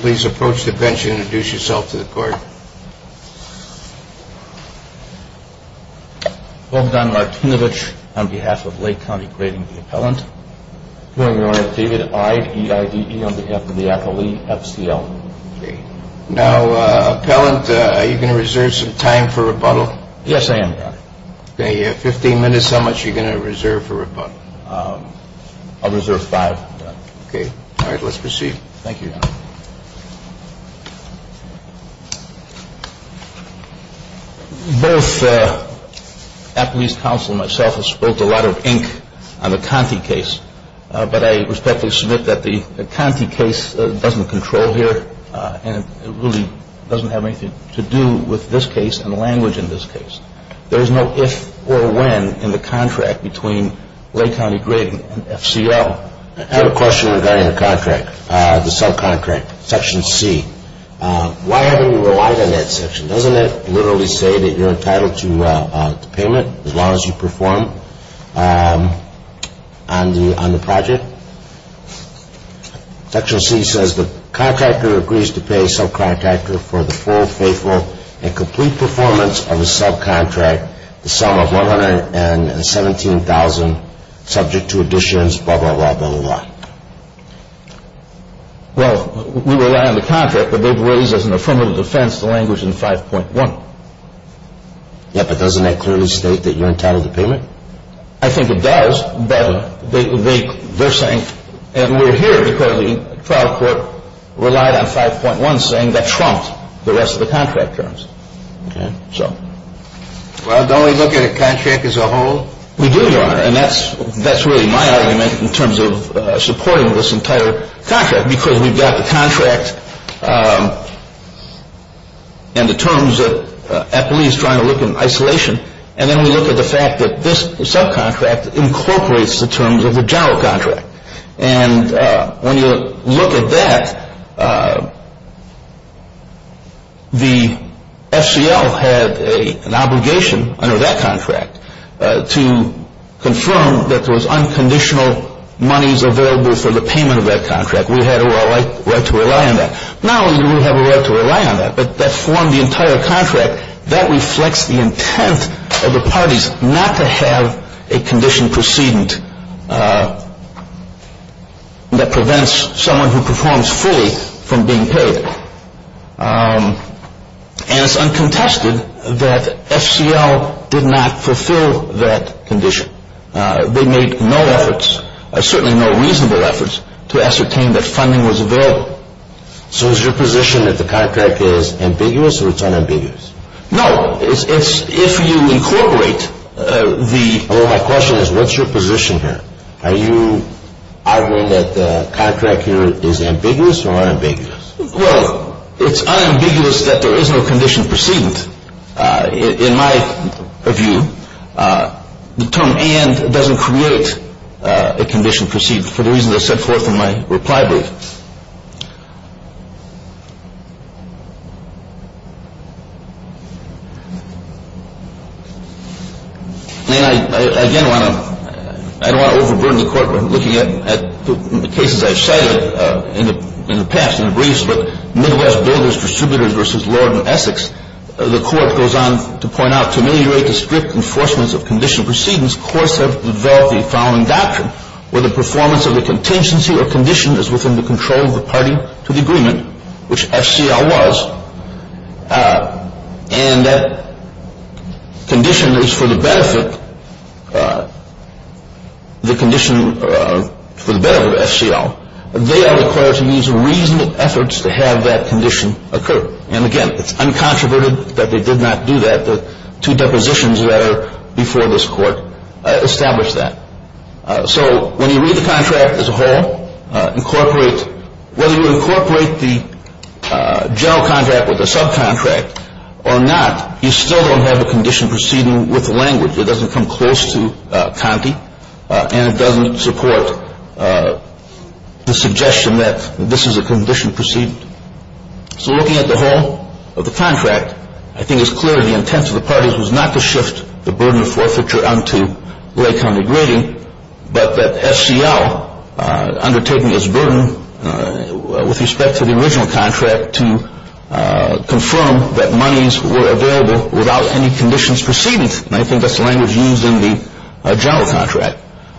Please approach the bench and introduce yourself to the court. Well done Martinovich, on behalf of Lake County Grading and Appellant. Good morning Your Honor, David I. E. I. D. E. on behalf of the appellee, F. C. L. Thank you, Your Honor. Mr. Appellant, are you going to reserve some time for rebuttal? Yes, I am, Your Honor. Okay, you have 15 minutes. How much are you going to reserve for rebuttal? I'll reserve five, Your Honor. Okay, all right, let's proceed. Thank you, Your Honor. Both the appellee's counsel and myself have spoken a lot of ink on the Conti case, but I respectfully submit that the Conti case doesn't control here and it really doesn't have anything to do with this case and the language in this case. There is no if or when in the contract between Lake County Grading and F.C.L. I have a question regarding the contract, the subcontract, Section C. Why haven't you relied on that section? Doesn't it literally say that you're entitled to payment as long as you perform on the project? Section C says the contractor agrees to pay subcontractor for the full, faithful, and complete performance of a subcontract, the sum of $117,000 subject to additions, blah, blah, blah, blah, blah. Well, we rely on the contract, but they've raised as an affirmative defense the language in 5.1. Yeah, but doesn't that clearly state that you're entitled to payment? I think it does, but they're saying, and we're here because the trial court relied on 5.1 saying that trumped the rest of the contract terms. Well, don't we look at a contract as a whole? We do, Your Honor, and that's really my argument in terms of supporting this entire contract because we've got the contract and the terms that Eppley is trying to look in isolation, and then we look at the fact that this subcontract incorporates the terms of the general contract. And when you look at that, the FCL had an obligation under that contract to confirm that there was unconditional monies available for the payment of that contract. We had a right to rely on that. Not only do we have a right to rely on that, but that formed the entire contract. That reflects the intent of the parties not to have a condition precedent that prevents someone who performs fully from being paid. And it's uncontested that FCL did not fulfill that condition. They made no efforts, certainly no reasonable efforts, to ascertain that funding was available. So is your position that the contract is ambiguous or it's unambiguous? No, it's if you incorporate the Well, my question is what's your position here? Are you arguing that the contract here is ambiguous or unambiguous? Well, it's unambiguous that there is no condition precedent. In my view, the term and doesn't create a condition precedent for the reasons I set forth in my reply brief. And I again want to I don't want to overburden the Court by looking at the cases I've cited in the past in the briefs, but Midwest Builders Distributors v. Lord & Essex. The Court goes on to point out, to ameliorate the strict enforcements of condition precedents, courts have developed the following doctrine, to the agreement, which FCL was. And that condition is for the benefit, the condition for the benefit of FCL. They are required to use reasonable efforts to have that condition occur. And again, it's uncontroverted that they did not do that. The two depositions that are before this Court establish that. So when you read the contract as a whole, incorporate whether you incorporate the general contract with the subcontract or not, you still don't have a condition precedent with the language. It doesn't come close to Conte. And it doesn't support the suggestion that this is a condition precedent. So looking at the whole of the contract, I think it's clear the intent of the parties was not to shift the burden of forfeiture onto lay congregating, but that FCL undertaking its burden with respect to the original contract to confirm that monies were available without any conditions precedents. And I think that's the language used in the general contract.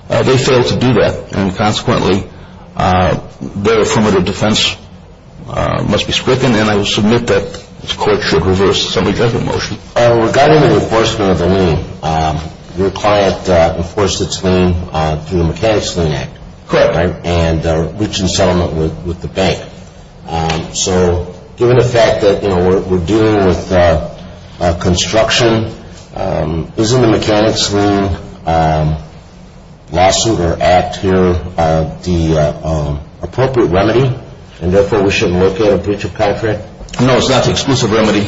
They failed to do that. And consequently, their affirmative defense must be stricken. And I will submit that this Court should reverse the summary judgment motion. Regarding the enforcement of the lien, your client enforced its lien through the Mechanics Lien Act. Correct. And reached a settlement with the bank. So given the fact that we're dealing with construction, isn't the Mechanics Lien lawsuit or act here the appropriate remedy, and therefore we shouldn't look at a breach of contract? No, it's not the exclusive remedy.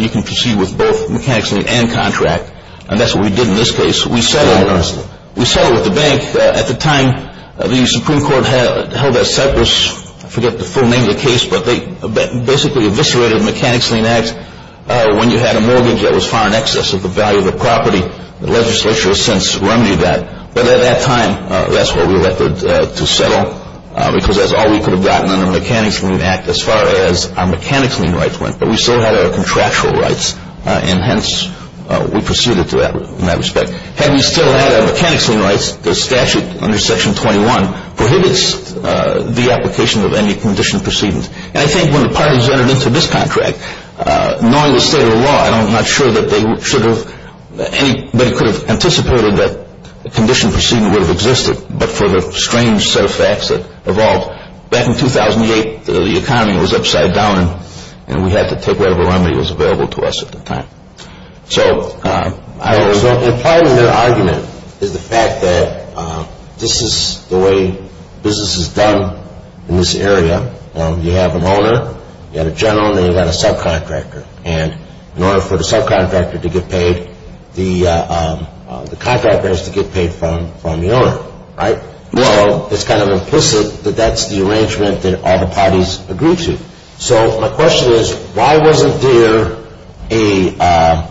You can proceed with both Mechanics Lien and contract. And that's what we did in this case. We settled with the bank. At the time the Supreme Court held that Cypress, I forget the full name of the case, but they basically eviscerated Mechanics Lien Act when you had a mortgage that was far in excess of the value of the property. The legislature has since remedied that. But at that time, that's what we elected to settle, because that's all we could have gotten under Mechanics Lien Act as far as our Mechanics Lien rights went. But we still had our contractual rights, and hence we proceeded in that respect. Had we still had our Mechanics Lien rights, the statute under Section 21 prohibits the application of any condition precedence. And I think when the parties entered into this contract, knowing the state of the law, I'm not sure that anybody could have anticipated that a condition precedence would have existed, but for the strange set of facts that evolved. Back in 2008, the economy was upside down, and we had to take whatever remedy was available to us at the time. So part of your argument is the fact that this is the way business is done in this area. You have an owner, you have a general, and then you've got a subcontractor. And in order for the subcontractor to get paid, the contractor has to get paid from the owner, right? Well, it's kind of implicit that that's the arrangement that all the parties agreed to. So my question is, why wasn't there a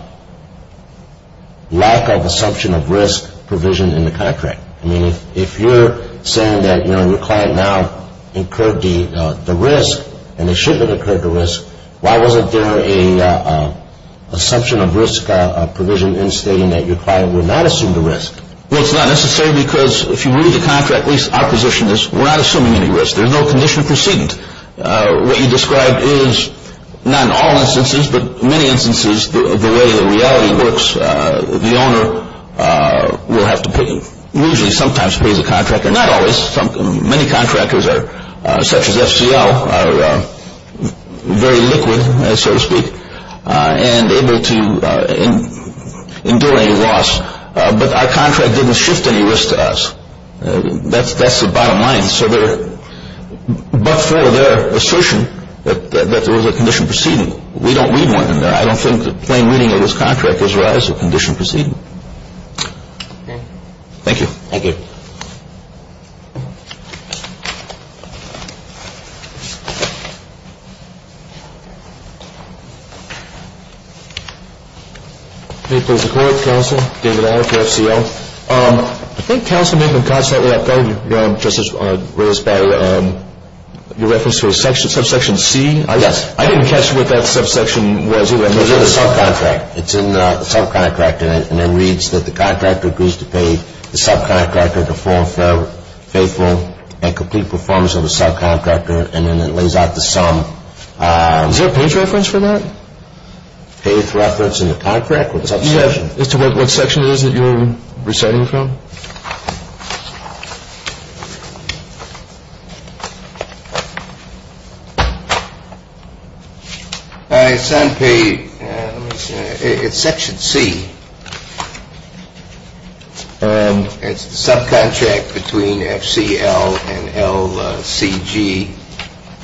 lack of assumption of risk provision in the contract? I mean, if you're saying that, you know, your client now incurred the risk, and they should have incurred the risk, why wasn't there an assumption of risk provision in stating that your client would not assume the risk? Well, it's not necessary, because if you read the contract, at least our position is we're not assuming any risk. There's no condition precedence. What you described is, not in all instances, but in many instances, the way the reality works, the owner will have to pay, usually sometimes pays a contractor, not always. Many contractors, such as FCL, are very liquid, so to speak, and able to endure any loss. But our contract didn't shift any risk to us. That's the bottom line. But for their assertion that there was a condition preceding, we don't read one in there. I don't think the plain reading of this contract is, well, there's a condition preceding. Okay. Thank you. Thank you. May it please the Court, counsel, David Allen for FCL. I think counsel may have been constantly up there, just as raised by your reference to a subsection C. Yes. I didn't catch what that subsection was either. It was in the subcontract. It's in the subcontract, and it reads that the contractor agrees to pay the subcontractor to fulfill faithful and complete performance of the subcontractor, and then it lays out the sum. Is there a page reference for that? Page reference in the contract with the subsection. Do you have as to what section it is that you're reciting from? It's section C. It's the subcontract between FCL and LCG,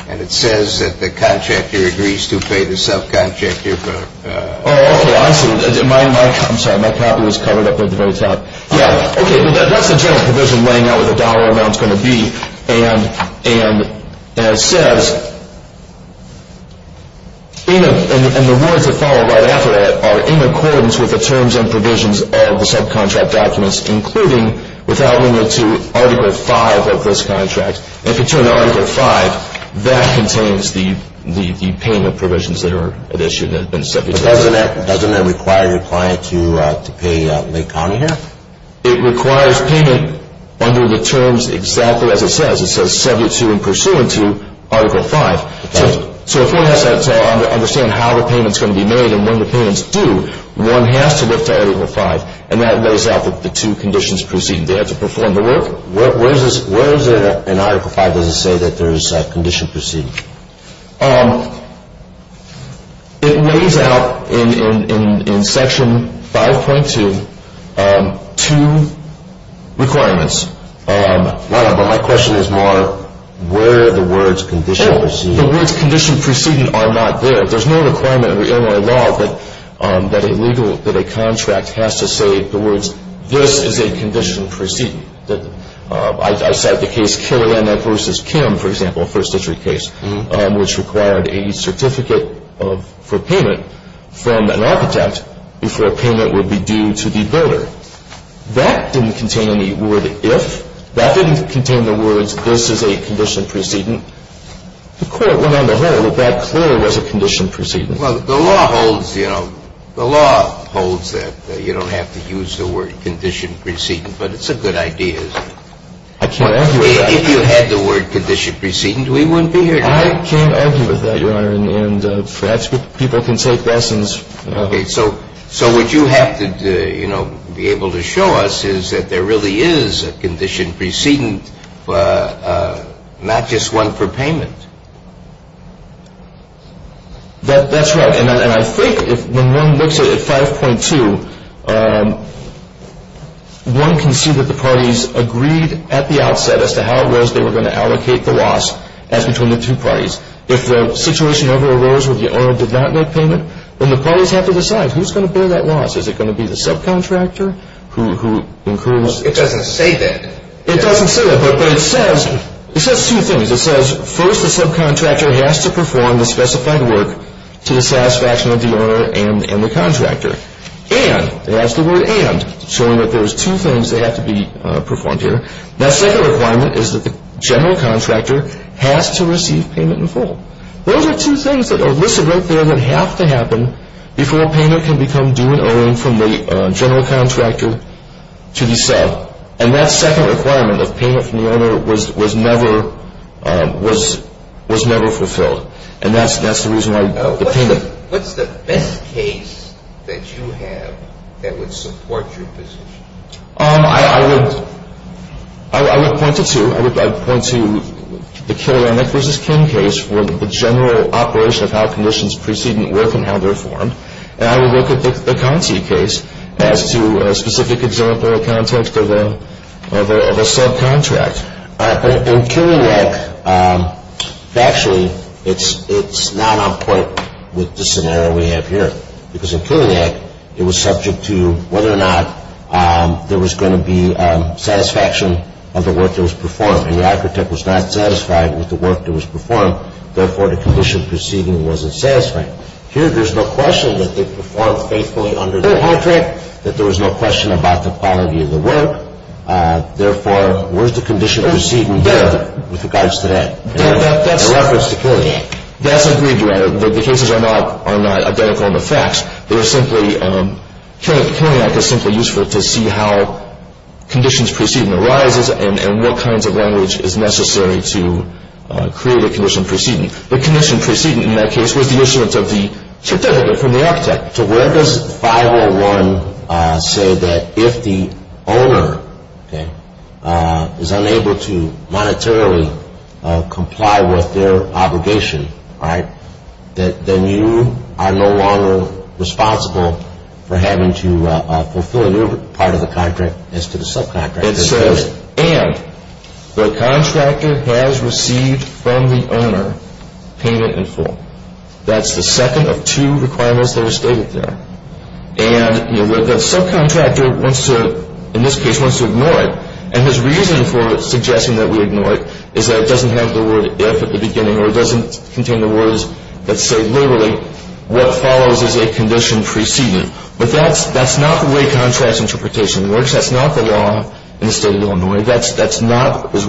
and it says that the contractor agrees to pay the subcontractor. Oh, I see. I'm sorry. My copy was covered up at the very top. Yeah. Okay. Well, that's the general provision laying out what the dollar amount is going to be, and it says, and the words that follow right after that are, in accordance with the terms and provisions of the subcontract documents, including without limit to Article V of this contract, and if you turn to Article V, that contains the payment provisions that are at issue that have been set before. But doesn't that require your client to pay Lake County here? It requires payment under the terms exactly as it says. It says subject to and pursuant to Article V. Right. So if one has to understand how the payment's going to be made and when the payment's due, one has to look to Article V, and that lays out the two conditions preceding that to perform the work. Where is it in Article V does it say that there's a condition preceding? It lays out in Section 5.2 two requirements. My question is more where are the words condition preceding? The words condition preceding are not there. There's no requirement under Illinois law that a contract has to say the words, this is a condition preceding. I cite the case Carolina v. Kim, for example, first district case, which required a certificate for payment from an architect before a payment would be due to the builder. That didn't contain any word if. That didn't contain the words this is a condition preceding. The court went on the whole that that clearly was a condition preceding. Well, the law holds, you know, the law holds that you don't have to use the word condition preceding, but it's a good idea. I can't argue with that. If you had the word condition preceding, we wouldn't be here today. I can't argue with that, Your Honor, and perhaps people can take lessons. Okay. So what you have to, you know, be able to show us is that there really is a condition preceding, not just one for payment. That's right. And I think when one looks at 5.2, one can see that the parties agreed at the outset as to how it was they were going to allocate the loss as between the two parties. If the situation ever arose where the owner did not make payment, then the parties have to decide who's going to bear that loss. Is it going to be the subcontractor who incurs? It doesn't say that. It doesn't say that, but it says two things. It says, first, the subcontractor has to perform the specified work to the satisfaction of the owner and the contractor. And, it has the word and, showing that there's two things that have to be performed here. That second requirement is that the general contractor has to receive payment in full. Those are two things that are listed right there that have to happen before payment can become due and owing from the general contractor to the sub. And that second requirement of payment from the owner was never fulfilled. And that's the reason why the payment. What's the best case that you have that would support your position? I would point to two. I would point to the Kilianek v. Kim case for the general operation of how conditions preceding work and how they're formed. And I would look at the Conti case as to a specific example in the context of a subcontract. In Kilianek, factually, it's not on point with the scenario we have here. Because in Kilianek, it was subject to whether or not there was going to be satisfaction of the work that was performed. And the architect was not satisfied with the work that was performed. Therefore, the condition preceding wasn't satisfying. Here, there's no question that they performed faithfully under the contract, that there was no question about the quality of the work. Therefore, where's the condition preceding there with regards to that in reference to Kilianek? That's agreed to. The cases are not identical in the facts. They're simply, Kilianek is simply useful to see how conditions preceding arises and what kinds of language is necessary to create a condition preceding. The condition preceding, in that case, was the issuance of the certificate from the architect. So where does 501 say that if the owner is unable to monetarily comply with their obligation, then you are no longer responsible for having to fulfill a new part of the contract as to the subcontract. It says, and the contractor has received from the owner payment in full. That's the second of two requirements that are stated there. And the subcontractor wants to, in this case, wants to ignore it. And his reason for suggesting that we ignore it is that it doesn't have the word if at the beginning or it doesn't contain the words that say literally what follows is a condition preceding. But that's not the way contract interpretation works. That's not the law in the state of Illinois. That's not what is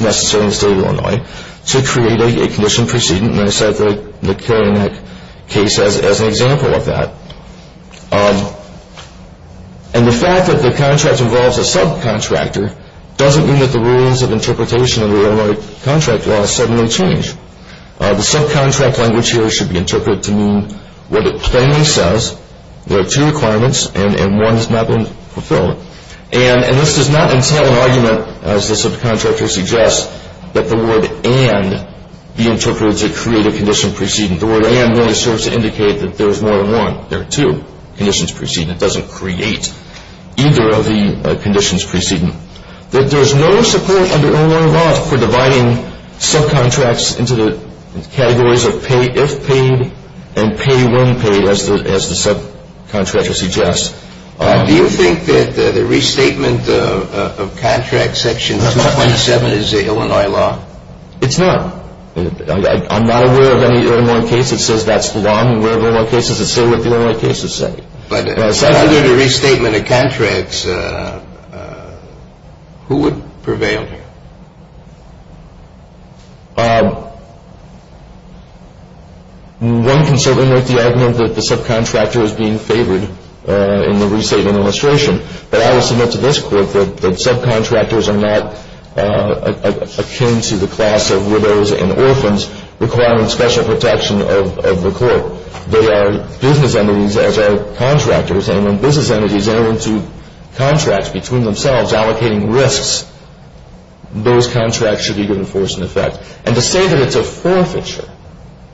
necessary in the state of Illinois to create a condition preceding. And I cite the Kilianek case as an example of that. And the fact that the contract involves a subcontractor doesn't mean that the rules of interpretation in the Illinois contract law suddenly change. The subcontract language here should be interpreted to mean what it plainly says. There are two requirements, and one has not been fulfilled. And this does not entail an argument, as the subcontractor suggests, that the word and be interpreted to create a condition preceding. The word and really serves to indicate that there is more than one. There are two conditions preceding. It doesn't create either of the conditions preceding. There is no support under Illinois law for dividing subcontracts into the categories of if paid and pay when paid, as the subcontractor suggests. Do you think that the restatement of contract section 227 is Illinois law? It's not. I'm not aware of any Illinois case that says that's the law. I'm aware of Illinois cases that say what the Illinois cases say. But if there was a restatement of contracts, who would prevail here? One can certainly make the argument that the subcontractor is being favored in the restatement illustration. But I will submit to this court that subcontractors are not akin to the class of widows and orphans requiring special protection of the court. They are business entities as are contractors. And when business entities enter into contracts between themselves allocating risks, those contracts should be given force and effect. And to say that it's a forfeiture,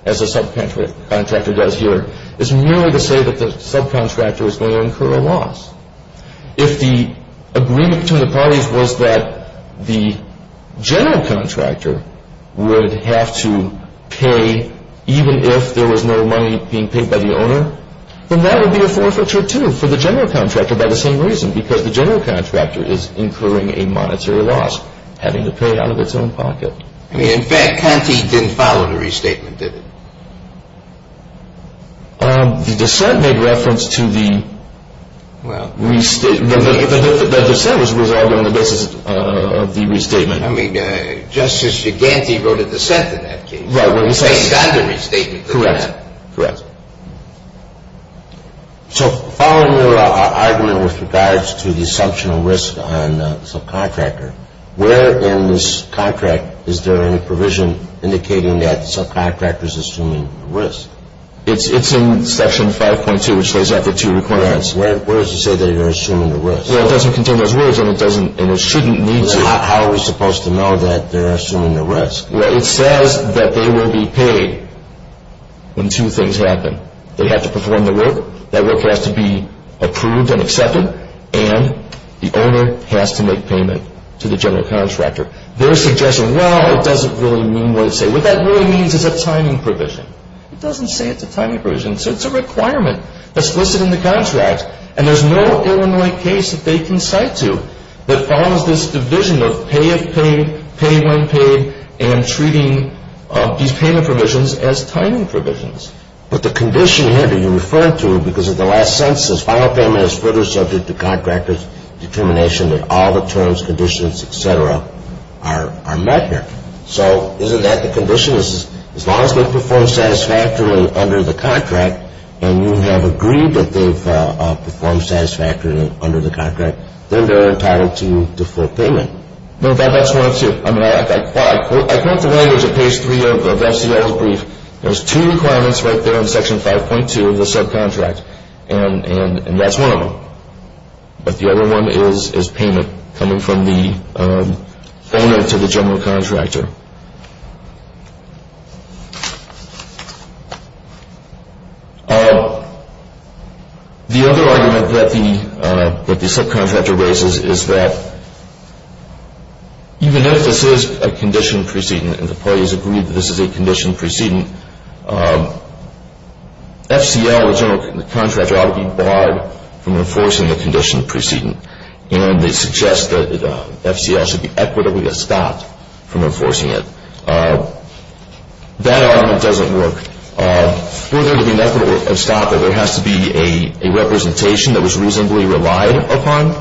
as a subcontractor does here, is merely to say that the subcontractor is going to incur a loss. If the agreement between the parties was that the general contractor would have to pay even if there was no money being paid by the owner, then that would be a forfeiture too for the general contractor by the same reason because the general contractor is incurring a monetary loss, having to pay out of its own pocket. I mean, in fact, Conti didn't follow the restatement, did he? The dissent made reference to the restatement. The dissent was resolved on the basis of the restatement. I mean, Justice Giganti wrote a dissent in that case. Right, when he said he got the restatement. Correct, correct. So following your argument with regards to the assumption of risk on the subcontractor, where in this contract is there any provision indicating that the subcontractor is assuming risk? It's in Section 5.2, which lays out the two requirements. Where does it say that they're assuming the risk? Well, it doesn't contain those words, and it shouldn't need to. How are we supposed to know that they're assuming the risk? Well, it says that they will be paid when two things happen. They have to perform the work, that work has to be approved and accepted, and the owner has to make payment to the general contractor. They're suggesting, well, it doesn't really mean what it says. What that really means is a timing provision. It doesn't say it's a timing provision. It's a requirement that's listed in the contract, and there's no Illinois case that they can cite to that follows this division of pay if paid, pay when paid, and treating these payment provisions as timing provisions. But the condition here that you're referring to, because of the last sentence, final payment is further subject to contractor's determination that all the terms, conditions, et cetera, are met here. So isn't that the condition? As long as they perform satisfactorily under the contract, and you have agreed that they've performed satisfactorily under the contract, then they're entitled to the full payment. No, that's one of two. I mean, I quote the language of page three of FCL's brief. There's two requirements right there in Section 5.2 of the subcontract, and that's one of them. But the other one is payment coming from the owner to the general contractor. Thank you. The other argument that the subcontractor raises is that even if this is a condition precedent and the parties agree that this is a condition precedent, FCL, the general contractor, ought to be barred from enforcing a condition precedent, and they suggest that FCL should be equitably estopped from enforcing it. That argument doesn't work. For there to be an equitable estoppel, there has to be a representation that was reasonably relied upon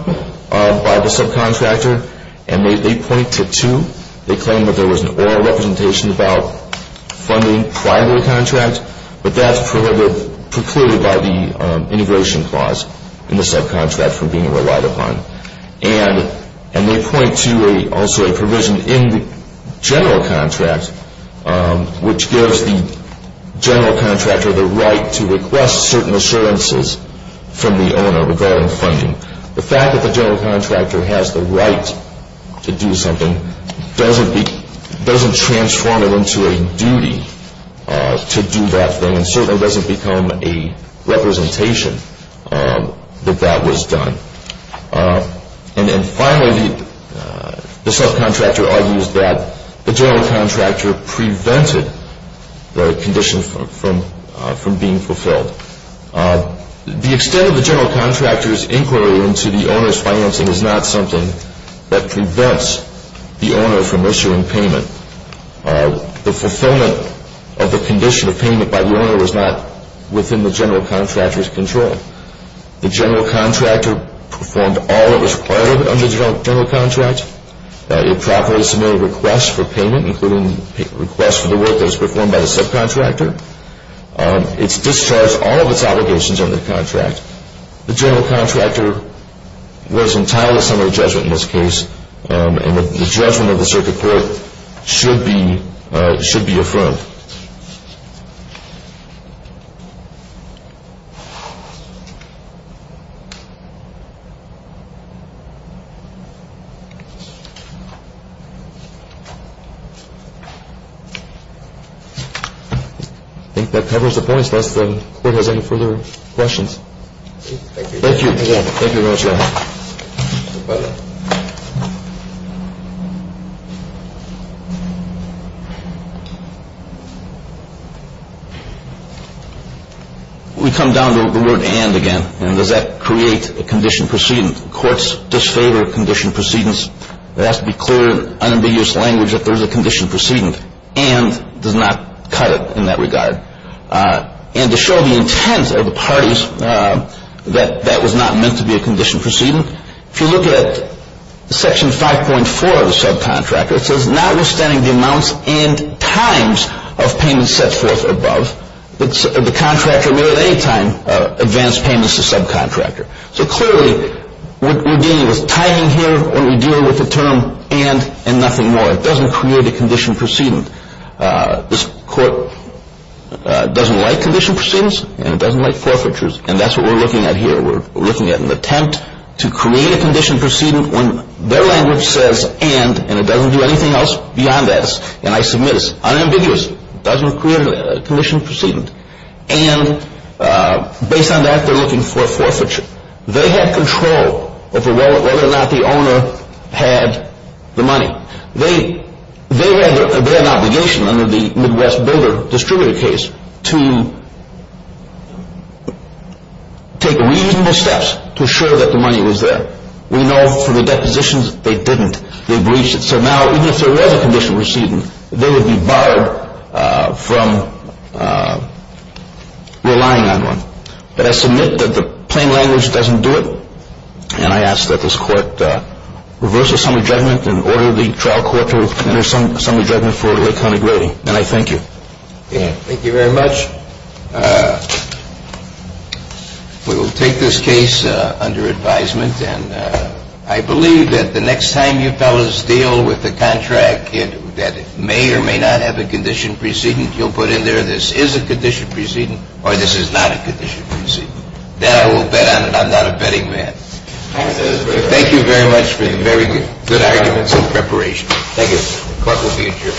by the subcontractor, and they point to two. They claim that there was an oral representation about funding prior to the contract, but that's precluded by the integration clause in the subcontract from being relied upon. And they point to also a provision in the general contract, which gives the general contractor the right to request certain assurances from the owner regarding funding. The fact that the general contractor has the right to do something doesn't transform it into a duty to do that thing and certainly doesn't become a representation that that was done. And finally, the subcontractor argues that the general contractor prevented the condition from being fulfilled. The extent of the general contractor's inquiry into the owner's financing is not something that prevents the owner from issuing payment. The fulfillment of the condition of payment by the owner was not within the general contractor's control. The general contractor performed all that was required under the general contract. It properly submitted requests for payment, including requests for the work that was performed by the subcontractor. It's discharged all of its obligations under the contract. The general contractor was entitled to some of the judgment in this case, and the judgment of the circuit court should be affirmed. I think that covers the points. Does the court have any further questions? Thank you. Thank you. Thank you very much. We come down to the word and again. And does that create a condition precedent? Courts disfavor condition precedents. There has to be clear, unambiguous language that there is a condition precedent. And does not cut it in that regard. And to show the intent of the parties that that was not meant to be a condition precedent, if you look at Section 5.4 of the subcontractor, it says, notwithstanding the amounts and times of payments set forth above, the contractor may at any time advance payments to the subcontractor. So clearly what we're dealing with timing here when we're dealing with the term and and nothing more. It doesn't create a condition precedent. This court doesn't like condition precedents, and it doesn't like forfeitures. And that's what we're looking at here. We're looking at an attempt to create a condition precedent when their language says and, and it doesn't do anything else beyond this. And I submit it's unambiguous. It doesn't create a condition precedent. And based on that, they're looking for a forfeiture. They have control over whether or not the owner had the money. They had an obligation under the Midwest Builder distributor case to take reasonable steps to assure that the money was there. We know from the depositions they didn't. They breached it. So now even if there was a condition precedent, they would be barred from relying on one. But I submit that the plain language doesn't do it. And I ask that this court reverse the summary judgment and order the trial court to render summary judgment for a Lake County grading. And I thank you. Thank you very much. We will take this case under advisement. And I believe that the next time you fellas deal with a contract that may or may not have a condition precedent, you'll put in there this is a condition precedent or this is not a condition precedent. Then I will bet on it. I'm not a betting man. Thank you very much for the very good arguments and preparation. Thank you. Court will be adjourned.